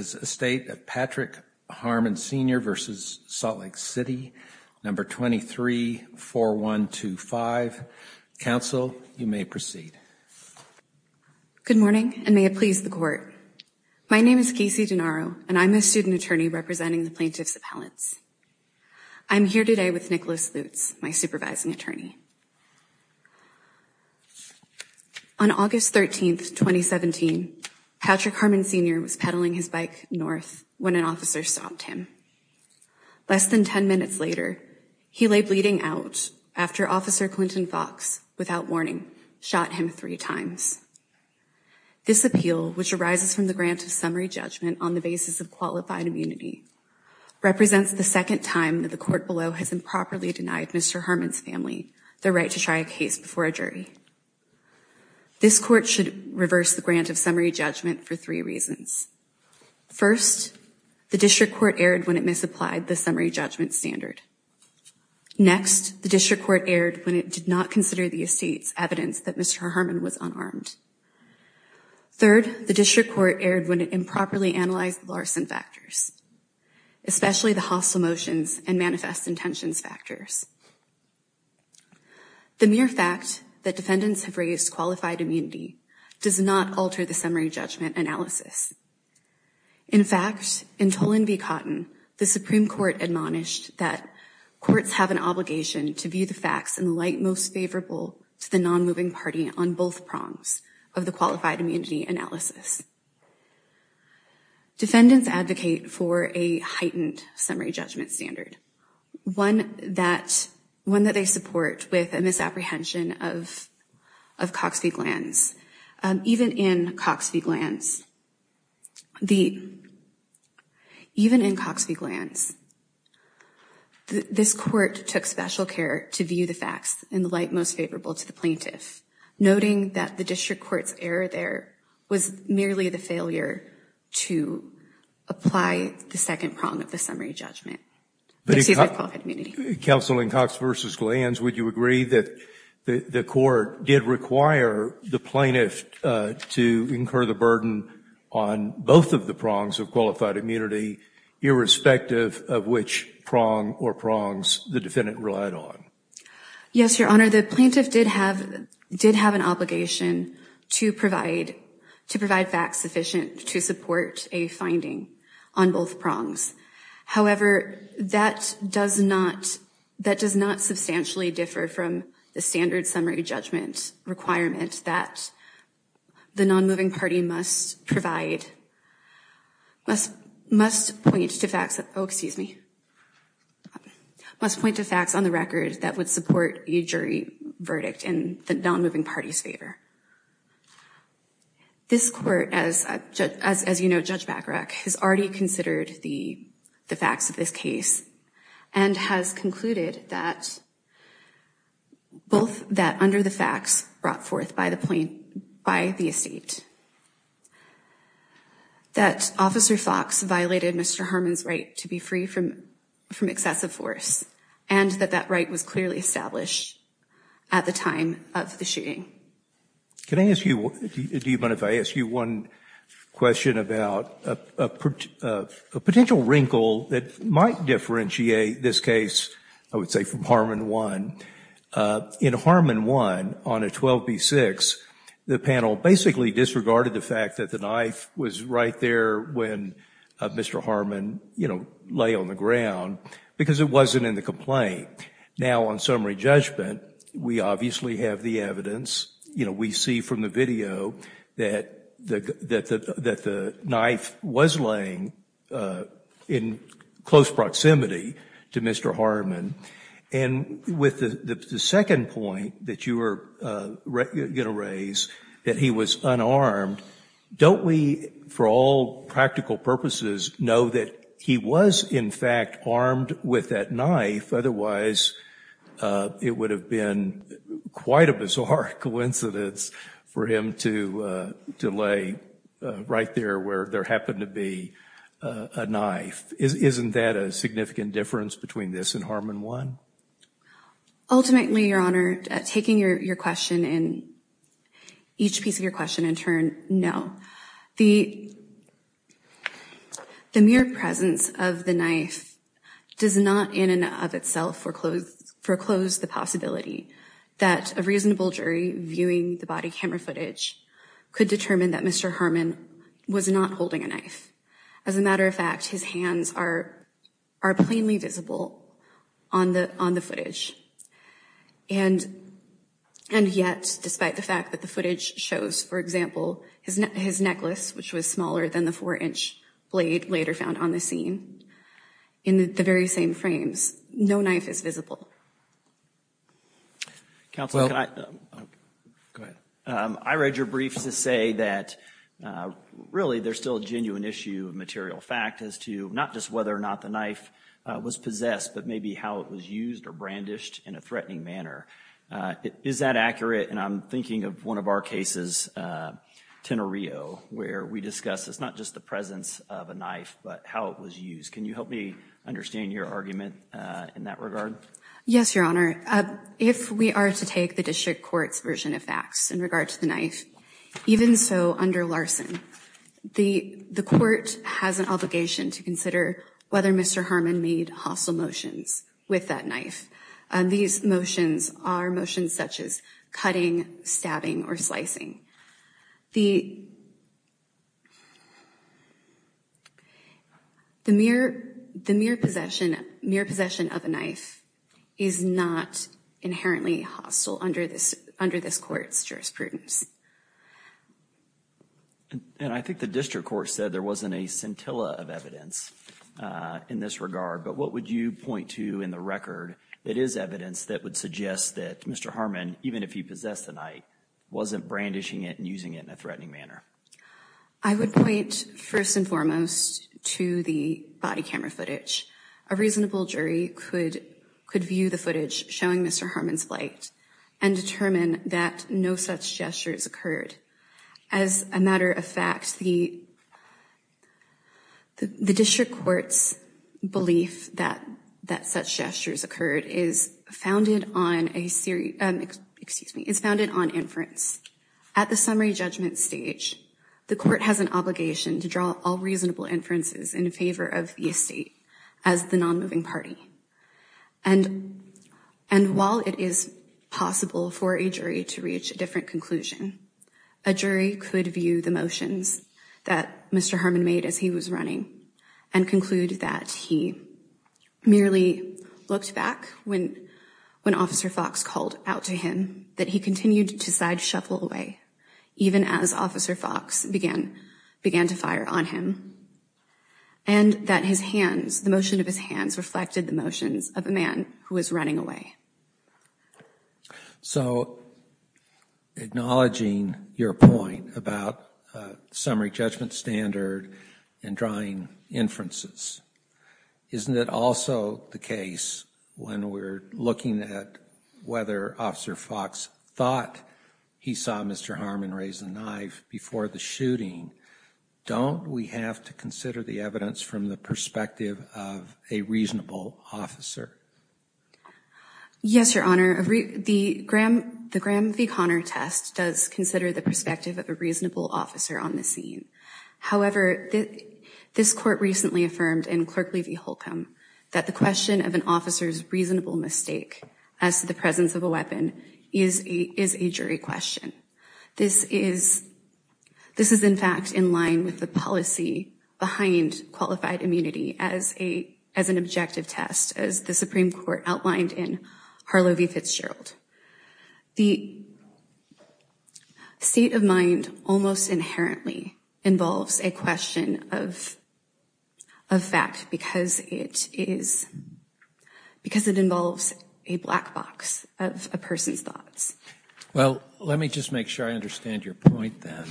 No. 234125. Counsel, you may proceed. Good morning, and may it please the Court. My name is Casey Denaro, and I'm a student attorney representing the Plaintiff's Appellants. I'm here today with Nicholas Lutz, my supervising attorney. On August 13, 2017, Patrick Harmon, Sr. was pedaling his bike north when an officer stopped him. Less than 10 minutes later, he lay bleeding out after Officer Clinton Fox, without warning, shot him three times. This appeal, which arises from the grant of summary judgment on the basis of qualified immunity, represents the second time that the Court below has improperly denied Mr. Harmon's family the right to try a case before a jury. This Court should reverse the grant of summary judgment for three reasons. First, the District Court erred when it misapplied the summary judgment standard. Next, the District Court erred when it did not consider the estate's evidence that Mr. Harmon was unarmed. Third, the District Court erred when it improperly analyzed the larceny factors, especially the hostile motions and manifest intentions factors. The mere fact that defendants have raised qualified immunity does not alter the summary judgment analysis. In fact, in Tolan v. Cotton, the Supreme Court admonished that courts have an obligation to view the facts in the light most favorable to the non-moving party on both prongs of the qualified immunity analysis. Defendants advocate for a heightened summary judgment standard, one that they support with a misapprehension of Cox v. Glantz. Even in Cox v. Glantz, even in Cox v. Glantz, this Court took special care to view the facts in the light most favorable to the plaintiff, noting that the District Court's error there was merely the failure to apply the second prong of the summary judgment. Counsel in Cox v. Glantz, would you agree that the Court did require the plaintiff to incur the burden on both of the prongs of qualified immunity, irrespective of which prong or prongs the defendant relied on? Yes, Your Honor, the plaintiff did have an obligation to provide facts sufficient to support a finding on both prongs. However, that does not substantially differ from the standard summary judgment requirement that the non-moving party must point to facts on the record that would support a jury verdict in the non-moving party's favor. This Court, as you know, Judge Bacharach, has already considered the facts of this case and has concluded that both that under the facts brought forth by the estate, that Officer Fox violated Mr. Harmon's right to be free from excessive force, and that that right was clearly established at the time of the shooting. Can I ask you, do you mind if I ask you one question about a potential wrinkle that might differentiate this case, I would say, from Harmon 1? In Harmon 1, on a 12b-6, the panel basically disregarded the fact that the knife was right there when Mr. Harmon, you know, lay on the ground, because it wasn't in the complaint. Now, on summary judgment, we obviously have the evidence, you know, we see from the video that the knife was laying in close proximity to Mr. Harmon. And with the second point that you were going to raise, that he was unarmed, don't we, for all practical purposes, know that he was, in fact, armed with that knife? Otherwise, it would have been quite a bizarre coincidence for him to lay right there where there happened to be a knife. Isn't that a significant difference between this and Harmon 1? Ultimately, Your Honor, taking your question and each piece of your question in turn, no. The mere presence of the knife does not in and of itself foreclose the possibility that a reasonable jury viewing the body camera footage could determine that Mr. Harmon was not holding a knife. As a matter of fact, his hands are plainly visible on the footage. And yet, despite the fact that the footage shows, for example, his necklace, which was smaller than the 4-inch blade later found on the scene, in the very same frames, no knife is visible. Counsel, I read your briefs to say that really there's still a genuine issue of material fact as to not just whether or not the knife was possessed, but maybe how it was used or brandished in a threatening manner. Is that accurate? And I'm thinking of one of our cases, Tenorio, where we discuss it's not just the presence of a knife, but how it was used. Can you help me understand your argument in that regard? Yes, Your Honor. If we are to take the district court's version of facts in regard to the knife, even so under Larson, the court has an obligation to consider whether Mr. Harmon made hostile motions with that knife. These motions are motions such as cutting, stabbing, or slicing. The mere possession of a knife is not inherently hostile under this court's jurisprudence. And I think the district court said there wasn't a scintilla of evidence in this regard, but what would you point to in the record that is evidence that would suggest that Mr. Harmon, even if he possessed the knife, wasn't brandishing it and using it in a threatening manner? I would point first and foremost to the body camera footage. A reasonable jury could view the footage showing Mr. Harmon's flight and determine that no such gestures occurred. As a matter of fact, the district court's belief that such gestures occurred is founded on inference. At the summary judgment stage, the court has an obligation to draw all reasonable inferences in favor of the estate as the non-moving party. And while it is possible for a jury to reach a different conclusion, a jury could view the motions that Mr. Harmon made as he was running and conclude that he merely looked back when Officer Fox called out to him, that he continued to sideshuffle away, even as Officer Fox began to fire on him, and that his hands, the motion of his hands, reflected the motions of a man who was running away. So acknowledging your point about summary judgment standard and drawing inferences, isn't it also the case when we're looking at whether Officer Fox thought he saw Mr. Harmon raise a knife before the shooting, don't we have to consider the evidence from the perspective of a reasonable officer? Yes, Your Honor, the Graham v. Conner test does consider the perspective of a reasonable officer on the scene. However, this court recently affirmed in Clerk Lee v. Holcomb that the question of an officer's reasonable mistake as to the presence of a weapon is a jury question. This is in fact in line with the policy behind qualified immunity as an objective test, as the Supreme Court outlined in Harlow v. Fitzgerald. The state of mind almost inherently involves a question of fact because it involves a black box of a person's thoughts. Well, let me just make sure I understand your point then.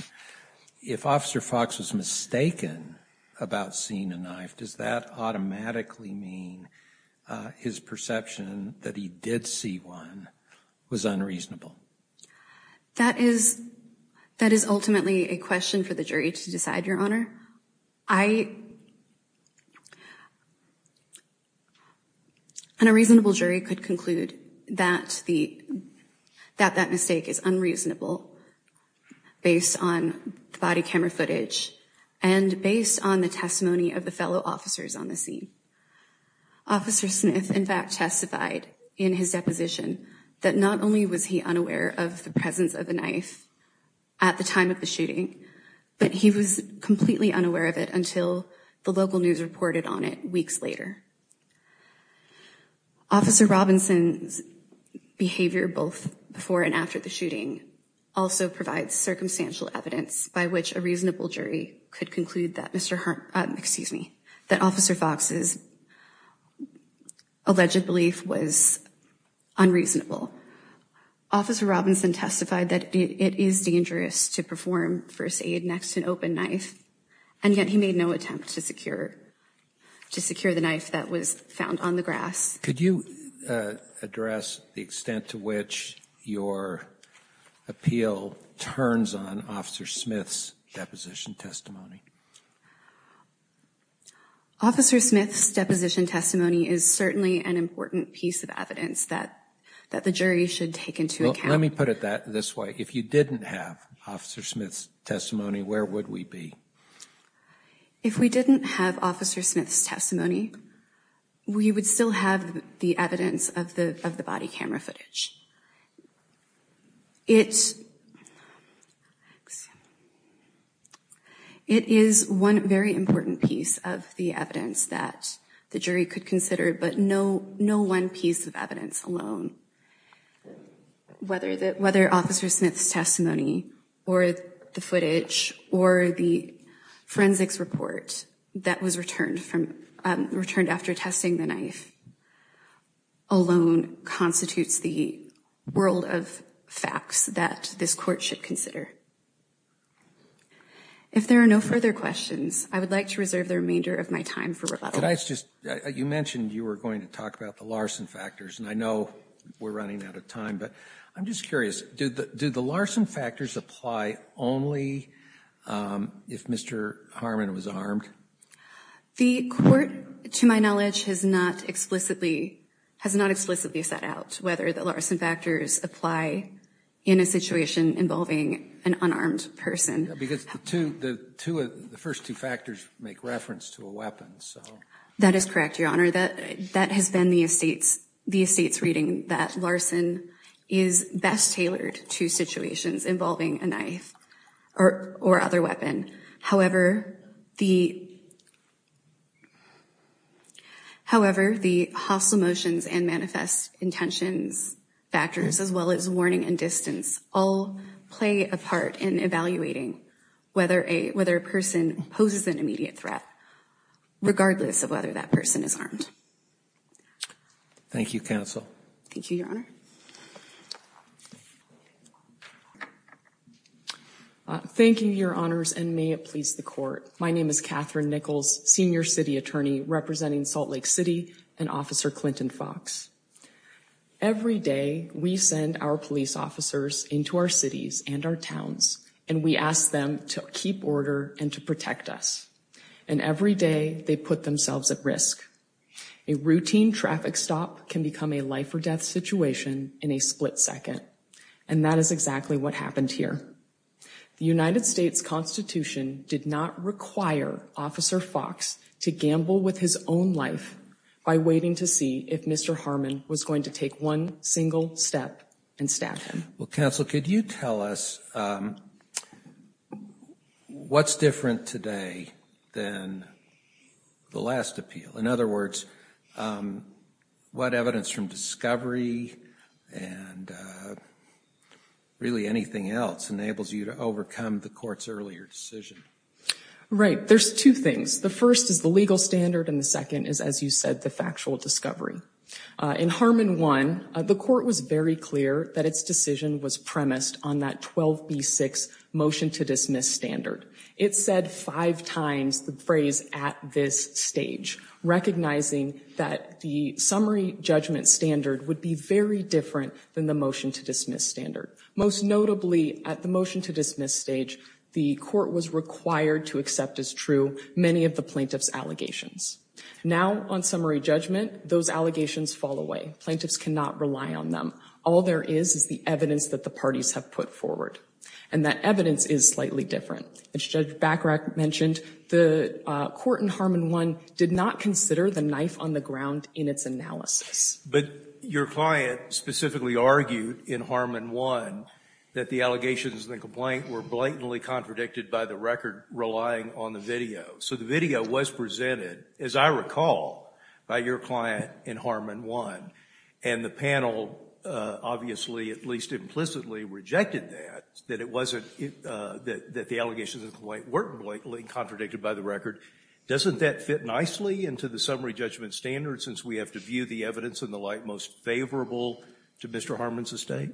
If Officer Fox was mistaken about seeing a knife, does that automatically mean his perception that he did see one was unreasonable? That is ultimately a question for the jury to decide, Your Honor. And a reasonable jury could conclude that that mistake is unreasonable based on the body camera footage and based on the testimony of the fellow officers on the scene. Officer Smith, in fact, testified in his deposition that not only was he unaware of the presence of a knife at the time of the shooting, but he was completely unaware of it until the local news reported on it weeks later. Officer Robinson's behavior both before and after the shooting also provides circumstantial evidence by which a reasonable jury could conclude that Officer Fox's alleged belief was unreasonable. Officer Robinson testified that it is dangerous to perform first aid next to an open knife, and yet he made no attempt to secure the knife that was found on the grass. Could you address the extent to which your appeal turns on Officer Smith's deposition testimony? Officer Smith's deposition testimony is certainly an important piece of evidence that the jury should take into account. Let me put it this way. If you didn't have Officer Smith's testimony, where would we be? If we didn't have Officer Smith's testimony, we would still have the evidence of the body camera footage. It is one very important piece of the evidence that the jury could consider, but no one piece of evidence alone. Whether Officer Smith's testimony or the footage or the forensics report that was returned after testing the knife alone constitutes the world of facts that this court should consider. If there are no further questions, I would like to reserve the remainder of my time for rebuttal. You mentioned you were going to talk about the Larson factors, and I know we're running out of time, but I'm just curious. Do the Larson factors apply only if Mr. Harmon was armed? The court, to my knowledge, has not explicitly set out whether the Larson factors apply in a situation involving an unarmed person. Because the first two factors make reference to a weapon. That is correct, Your Honor. That has been the estate's reading that Larson is best tailored to situations involving a knife or other weapon. However, the hostile motions and manifest intentions factors, as well as warning and distance, all play a part in evaluating whether a person poses an immediate threat, regardless of whether that person is armed. Thank you, counsel. Thank you, Your Honor. Thank you, Your Honors, and may it please the court. My name is Catherine Nichols, Senior City Attorney representing Salt Lake City and Officer Clinton Fox. Every day, we send our police officers into our cities and our towns, and we ask them to keep order and to protect us. And every day, they put themselves at risk. A routine traffic stop can become a life or death situation in a split second. And that is exactly what happened here. The United States Constitution did not require Officer Fox to gamble with his own life by waiting to see if Mr. Harmon was going to take one single step and stab him. Well, counsel, could you tell us what's different today than the last appeal? In other words, what evidence from discovery and really anything else enables you to overcome the court's earlier decision? Right. There's two things. The first is the legal standard, and the second is, as you said, the factual discovery. In Harmon 1, the court was very clear that its decision was premised on that 12b-6 motion to dismiss standard. It said five times the phrase, at this stage, recognizing that the summary judgment standard would be very different than the motion to dismiss standard. Most notably, at the motion to dismiss stage, the court was required to accept as true many of the plaintiff's allegations. Now, on summary judgment, those allegations fall away. Plaintiffs cannot rely on them. All there is is the evidence that the parties have put forward. And that evidence is slightly different. As Judge Bachrach mentioned, the court in Harmon 1 did not consider the knife on the ground in its analysis. But your client specifically argued in Harmon 1 that the allegations in the complaint were blatantly contradicted by the record relying on the video. So the video was presented, as I recall, by your client in Harmon 1. And the panel obviously, at least implicitly, rejected that, that it wasn't the allegations in the complaint weren't blatantly contradicted by the record. Doesn't that fit nicely into the summary judgment standard since we have to view the evidence in the light most favorable to Mr. Harmon's estate?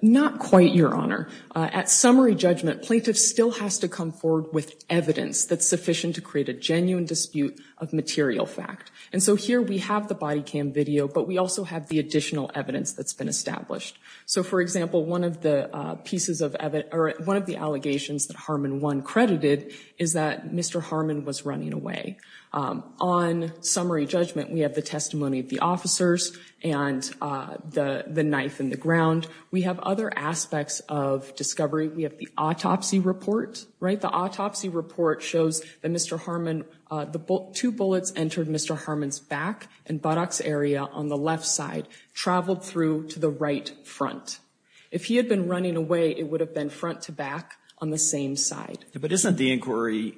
Not quite, Your Honor. At summary judgment, plaintiff still has to come forward with evidence that's sufficient to create a genuine dispute of material fact. And so here we have the body cam video, but we also have the additional evidence that's been established. So, for example, one of the allegations that Harmon 1 credited is that Mr. Harmon was running away. On summary judgment, we have the testimony of the officers and the knife in the ground. We have other aspects of discovery. We have the autopsy report, right? The autopsy report shows that Mr. Harmon, the two bullets entered Mr. Harmon's back and buttocks area on the left side, traveled through to the right front. If he had been running away, it would have been front to back on the same side. But isn't the inquiry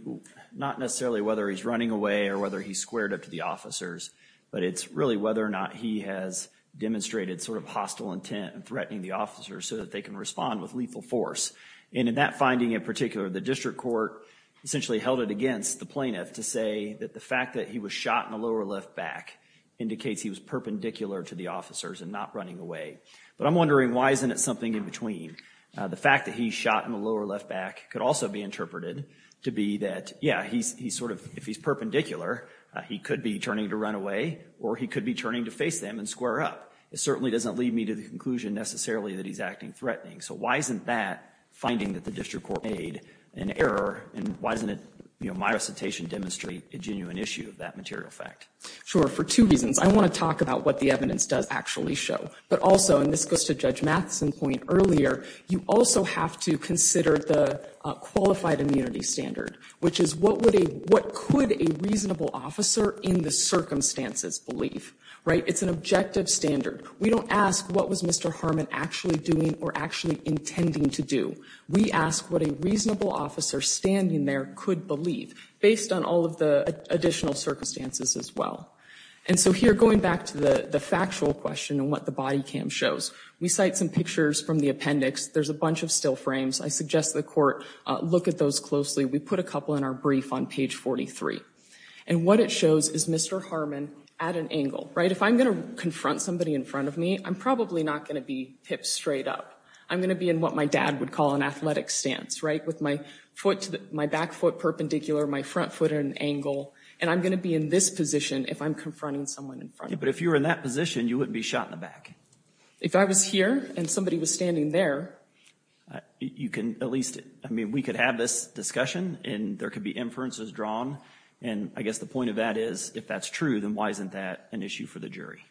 not necessarily whether he's running away or whether he's squared up to the officers, but it's really whether or not he has demonstrated sort of hostile intent in threatening the officers so that they can respond with lethal force. And in that finding in particular, the district court essentially held it against the plaintiff to say that the fact that he was shot in the lower left back indicates he was perpendicular to the officers and not running away. But I'm wondering, why isn't it something in between? The fact that he's shot in the lower left back could also be interpreted to be that, yeah, he's sort of, if he's perpendicular, he could be turning to run away or he could be turning to face them and square up. It certainly doesn't lead me to the conclusion necessarily that he's acting threatening. So why isn't that finding that the district court made an error and why doesn't it, you know, my recitation demonstrate a genuine issue of that material fact? Sure, for two reasons. I want to talk about what the evidence does actually show. But also, and this goes to Judge Matheson's point earlier, you also have to consider the qualified immunity standard, which is what would a, what could a reasonable officer in the circumstances believe, right? It's an objective standard. We don't ask what was Mr. Harmon actually doing or actually intending to do. We ask what a reasonable officer standing there could believe, based on all of the additional circumstances as well. And so here, going back to the factual question and what the body cam shows, we cite some pictures from the appendix. There's a bunch of still frames. I suggest the court look at those closely. We put a couple in our brief on page 43. And what it shows is Mr. Harmon at an angle, right? If I'm going to confront somebody in front of me, I'm probably not going to be hip straight up. I'm going to be in what my dad would call an athletic stance, right? With my foot, my back foot perpendicular, my front foot at an angle. And I'm going to be in this position if I'm confronting someone in front of me. But if you were in that position, you wouldn't be shot in the back. If I was here and somebody was standing there. You can at least, I mean, we could have this discussion and there could be inferences drawn. And I guess the point of that is, if that's true, then why isn't that an issue for the jury?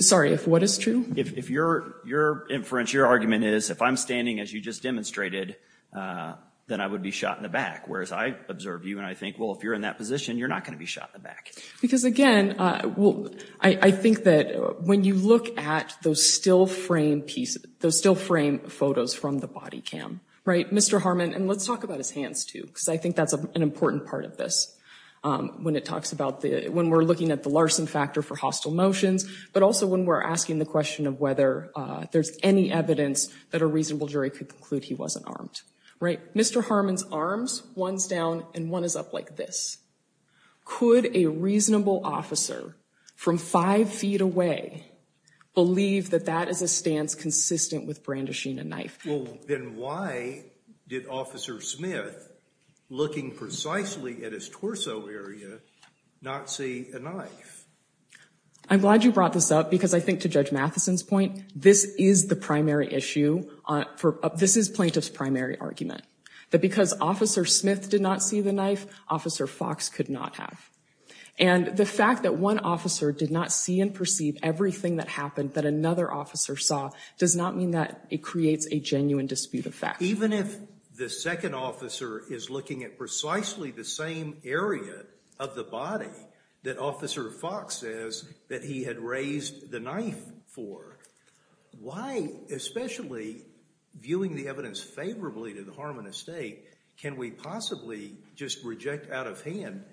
Sorry, if what is true? If your inference, your argument is, if I'm standing as you just demonstrated, then I would be shot in the back. Whereas I observe you and I think, well, if you're in that position, you're not going to be shot in the back. Because again, I think that when you look at those still frame photos from the body cam, right? Mr. Harmon, and let's talk about his hands too, because I think that's an important part of this. When it talks about the, when we're looking at the Larson factor for hostile motions, but also when we're asking the question of whether there's any evidence that a reasonable jury could conclude he wasn't armed, right? Mr. Harmon's arms, one's down and one is up like this. Could a reasonable officer from five feet away believe that that is a stance consistent with brandishing a knife? Well, then why did Officer Smith, looking precisely at his torso area, not see a knife? I'm glad you brought this up because I think to Judge Matheson's point, this is the primary issue. This is plaintiff's primary argument. That because Officer Smith did not see the knife, Officer Fox could not have. And the fact that one officer did not see and perceive everything that happened that Even if the second officer is looking at precisely the same area of the body that Officer Fox says that he had raised the knife for, why, especially viewing the evidence favorably to the Harmon estate, can we possibly just reject out of hand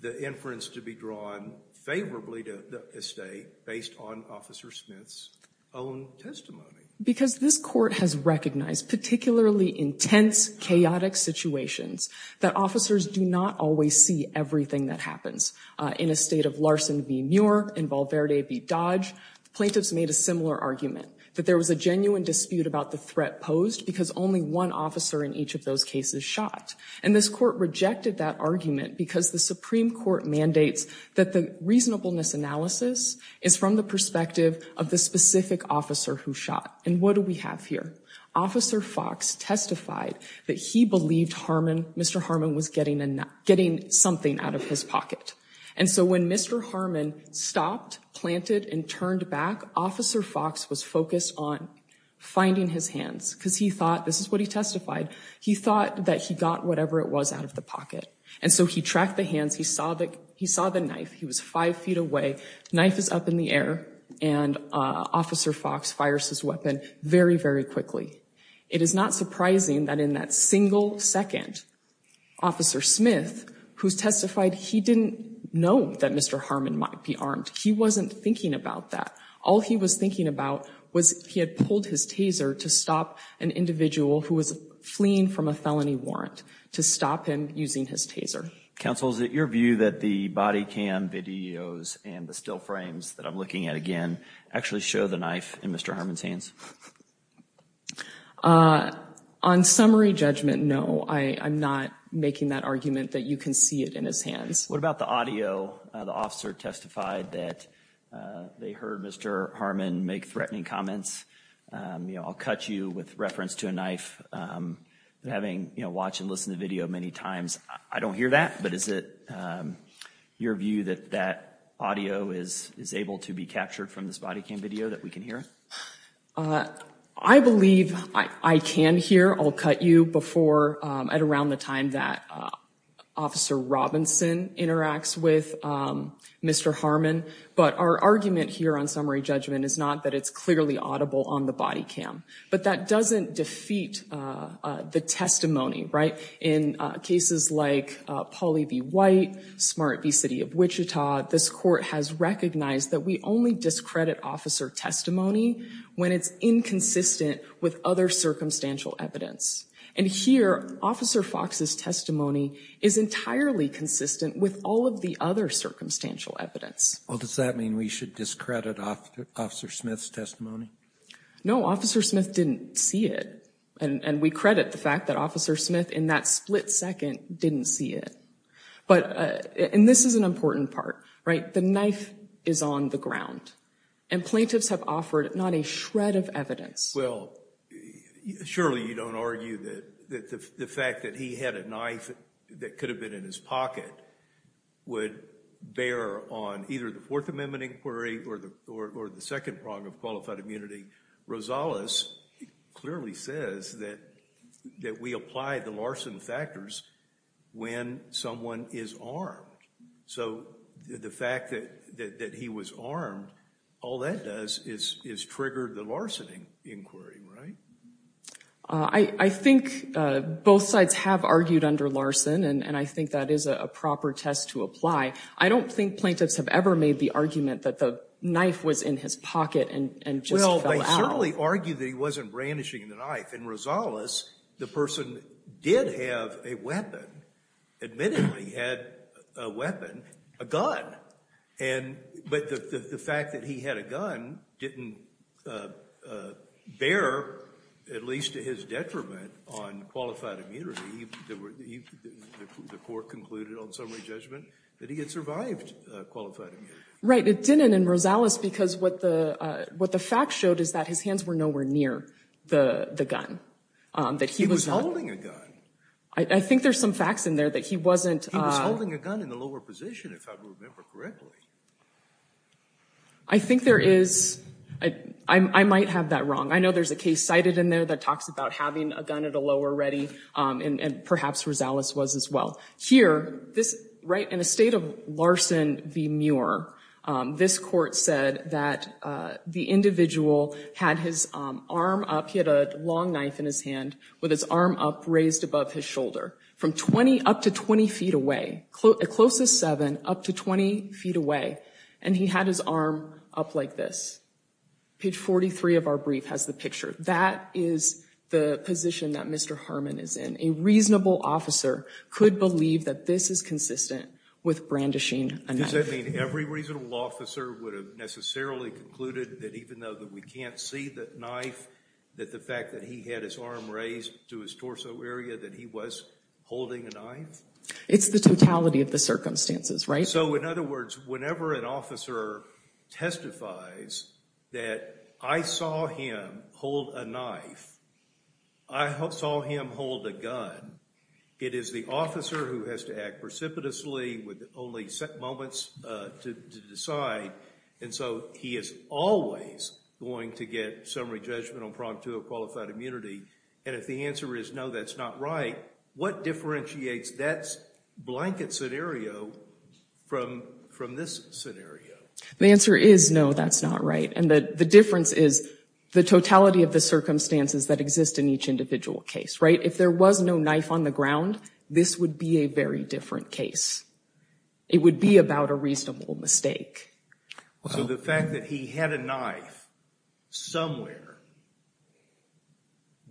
the inference to be drawn favorably to the estate based on Officer Smith's own testimony? Because this court has recognized particularly intense, chaotic situations that officers do not always see everything that happens. In a state of Larson v. Muir and Valverde v. Dodge, plaintiffs made a similar argument that there was a genuine dispute about the threat posed because only one officer in each of those cases shot. And this court rejected that argument because the Supreme Court mandates that the reasonableness analysis is from the perspective of the specific officer who shot. And what do we have here? Officer Fox testified that he believed Mr. Harmon was getting something out of his pocket. And so when Mr. Harmon stopped, planted, and turned back, Officer Fox was focused on finding his hands because he thought, this is what he testified, he thought that he got whatever it was out of the pocket. And so he tracked the hands. He saw the knife. He was five feet away. The knife is up in the air. And Officer Fox fires his weapon very, very quickly. It is not surprising that in that single second, Officer Smith, who testified, he didn't know that Mr. Harmon might be armed. He wasn't thinking about that. All he was thinking about was he had pulled his taser to stop an individual who was fleeing from a felony warrant, to stop him using his taser. Counsel, is it your view that the body cam videos and the still frames that I'm looking at again actually show the knife in Mr. Harmon's hands? On summary judgment, no. I'm not making that argument that you can see it in his hands. What about the audio? The officer testified that they heard Mr. Harmon make threatening comments. You know, I'll cut you with reference to a knife. Having, you know, watched and listened to the video many times, I don't hear that. But is it your view that that audio is able to be captured from this body cam video that we can hear? I believe I can hear. I'll cut you before at around the time that Officer Robinson interacts with Mr. Harmon. But our argument here on summary judgment is not that it's clearly audible on the body cam. But that doesn't defeat the testimony, right? In cases like Pauley v. White, Smart v. City of Wichita, this court has recognized that we only discredit officer testimony when it's inconsistent with other circumstantial evidence. And here, Officer Fox's testimony is entirely consistent with all of the other circumstantial evidence. Well, does that mean we should discredit Officer Smith's testimony? No, Officer Smith didn't see it. And we credit the fact that Officer Smith, in that split second, didn't see it. But, and this is an important part, right? The knife is on the ground. And plaintiffs have offered not a shred of evidence. Well, surely you don't argue that the fact that he had a knife that could have been in his pocket would bear on either the Fourth Amendment inquiry or the second prong of qualified immunity. Rosales clearly says that we apply the larceny factors when someone is armed. So the fact that he was armed, all that does is trigger the larceny inquiry, right? I think both sides have argued under Larson, and I think that is a proper test to apply. I don't think plaintiffs have ever made the argument that the knife was in his pocket and just fell out. Well, they certainly argued that he wasn't brandishing the knife. In Rosales, the person did have a weapon. Admittedly, he had a weapon, a gun. But the fact that he had a gun didn't bear, at least to his detriment, on qualified immunity. The court concluded on summary judgment that he had survived qualified immunity. Right, it didn't in Rosales because what the facts showed is that his hands were nowhere near the gun. He was holding a gun. I think there's some facts in there that he wasn't. He was holding a gun in the lower position, if I remember correctly. I think there is. I might have that wrong. I know there's a case cited in there that talks about having a gun at a lower ready, and perhaps Rosales was as well. Here, in a state of Larson v. Muir, this court said that the individual had his arm up. He had a long knife in his hand with his arm up, raised above his shoulder. From 20, up to 20 feet away. As close as 7, up to 20 feet away. And he had his arm up like this. Page 43 of our brief has the picture. That is the position that Mr. Harmon is in. A reasonable officer could believe that this is consistent with brandishing a knife. Does that mean every reasonable officer would have necessarily concluded that even though we can't see the knife, that the fact that he had his arm raised to his torso area, that he was holding a knife? It's the totality of the circumstances, right? So, in other words, whenever an officer testifies that I saw him hold a knife, I saw him hold a gun, it is the officer who has to act precipitously with only moments to decide. And so, he is always going to get summary judgment on Prompt II of Qualified Immunity. And if the answer is no, that's not right, what differentiates that blanket scenario from this scenario? The answer is no, that's not right. And the difference is the totality of the circumstances that exist in each individual case, right? If there was no knife on the ground, this would be a very different case. It would be about a reasonable mistake. So, the fact that he had a knife somewhere,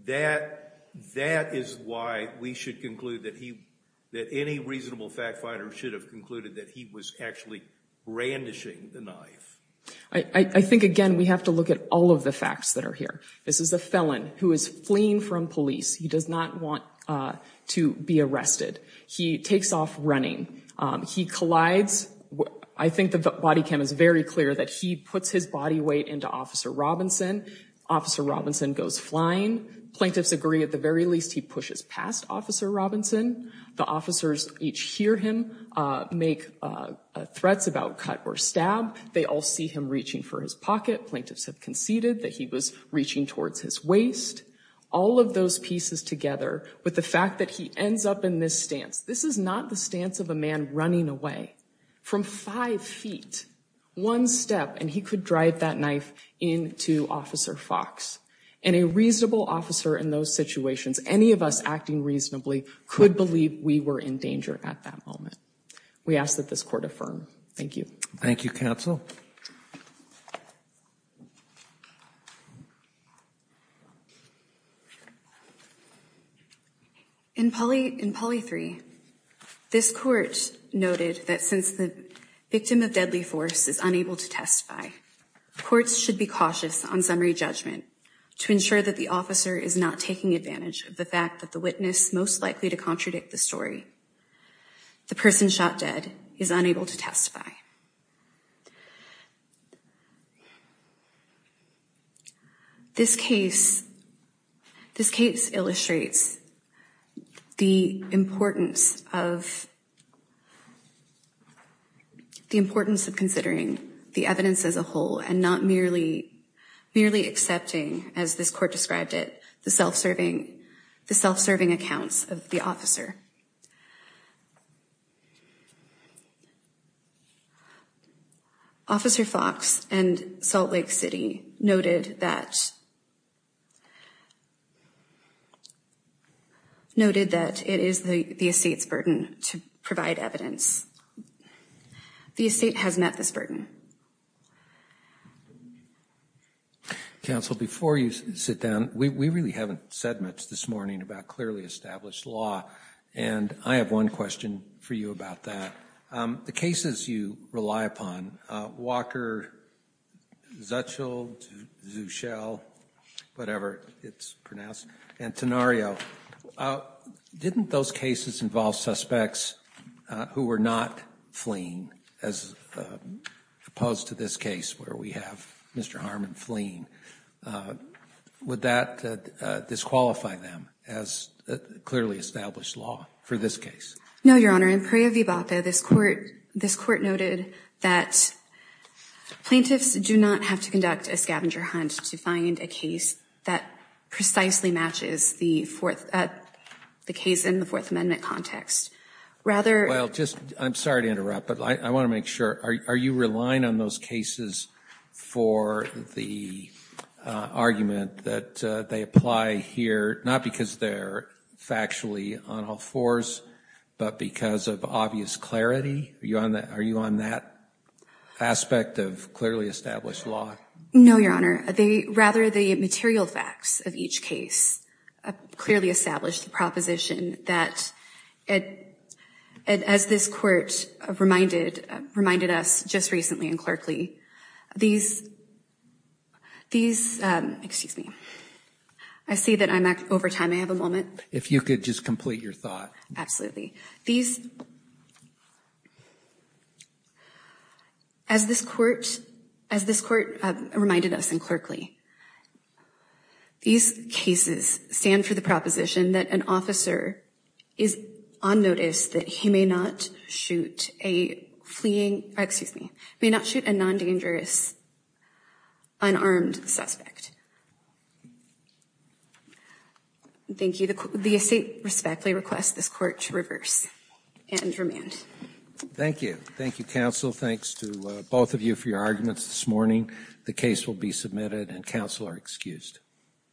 that is why we should conclude that any reasonable fact finder should have concluded that he was actually brandishing the knife. I think, again, we have to look at all of the facts that are here. This is a felon who is fleeing from police. He does not want to be arrested. He takes off running. He collides. I think the body cam is very clear that he puts his body weight into Officer Robinson. Officer Robinson goes flying. Plaintiffs agree, at the very least, he pushes past Officer Robinson. The officers each hear him make threats about cut or stab. They all see him reaching for his pocket. Plaintiffs have conceded that he was reaching towards his waist. All of those pieces together with the fact that he ends up in this stance, this is not the stance of a man running away from five feet, one step, and he could drive that knife into Officer Fox. And a reasonable officer in those situations, any of us acting reasonably, could believe we were in danger at that moment. We ask that this court affirm. Thank you. Thank you, Counsel. In Poly 3, this court noted that since the victim of deadly force is unable to testify, courts should be cautious on summary judgment to ensure that the officer is not taking advantage of the fact that the witness most likely to contradict the story, the person shot dead, is unable to testify. This case illustrates the importance of considering the evidence as a whole and not merely accepting, as this court described it, the self-serving accounts of the officer. Officer Fox and Salt Lake City noted that it is the estate's burden to provide evidence. The estate has met this burden. Thank you. Counsel, before you sit down, we really haven't said much this morning about clearly established law, and I have one question for you about that. The cases you rely upon, Walker, Zuchel, Zuchel, whatever it's pronounced, and Tenario, didn't those cases involve suspects who were not fleeing, as opposed to this case where we have Mr. Harmon fleeing? Would that disqualify them as clearly established law for this case? No, Your Honor. In Perea v. Bapa, this court noted that plaintiffs do not have to conduct a scavenger hunt to find a case that precisely matches the case in the Fourth Amendment context. I'm sorry to interrupt, but I want to make sure, are you relying on those cases for the argument that they apply here, not because they're factually on all fours, but because of obvious clarity? Are you on that aspect of clearly established law? No, Your Honor. Rather, the material facts of each case clearly establish the proposition that, as this court reminded us just recently in Clerkley, these, these, excuse me, I see that I'm over time. I have a moment. If you could just complete your thought. As this court reminded us in Clerkley, these cases stand for the proposition that an officer is on notice that he may not shoot a fleeing, excuse me, may not shoot a non-dangerous, unarmed suspect. Thank you. The estate respectfully requests this court to reverse and remand. Thank you. Thank you, counsel. Thanks to both of you for your arguments this morning. The case will be submitted and counsel are excused.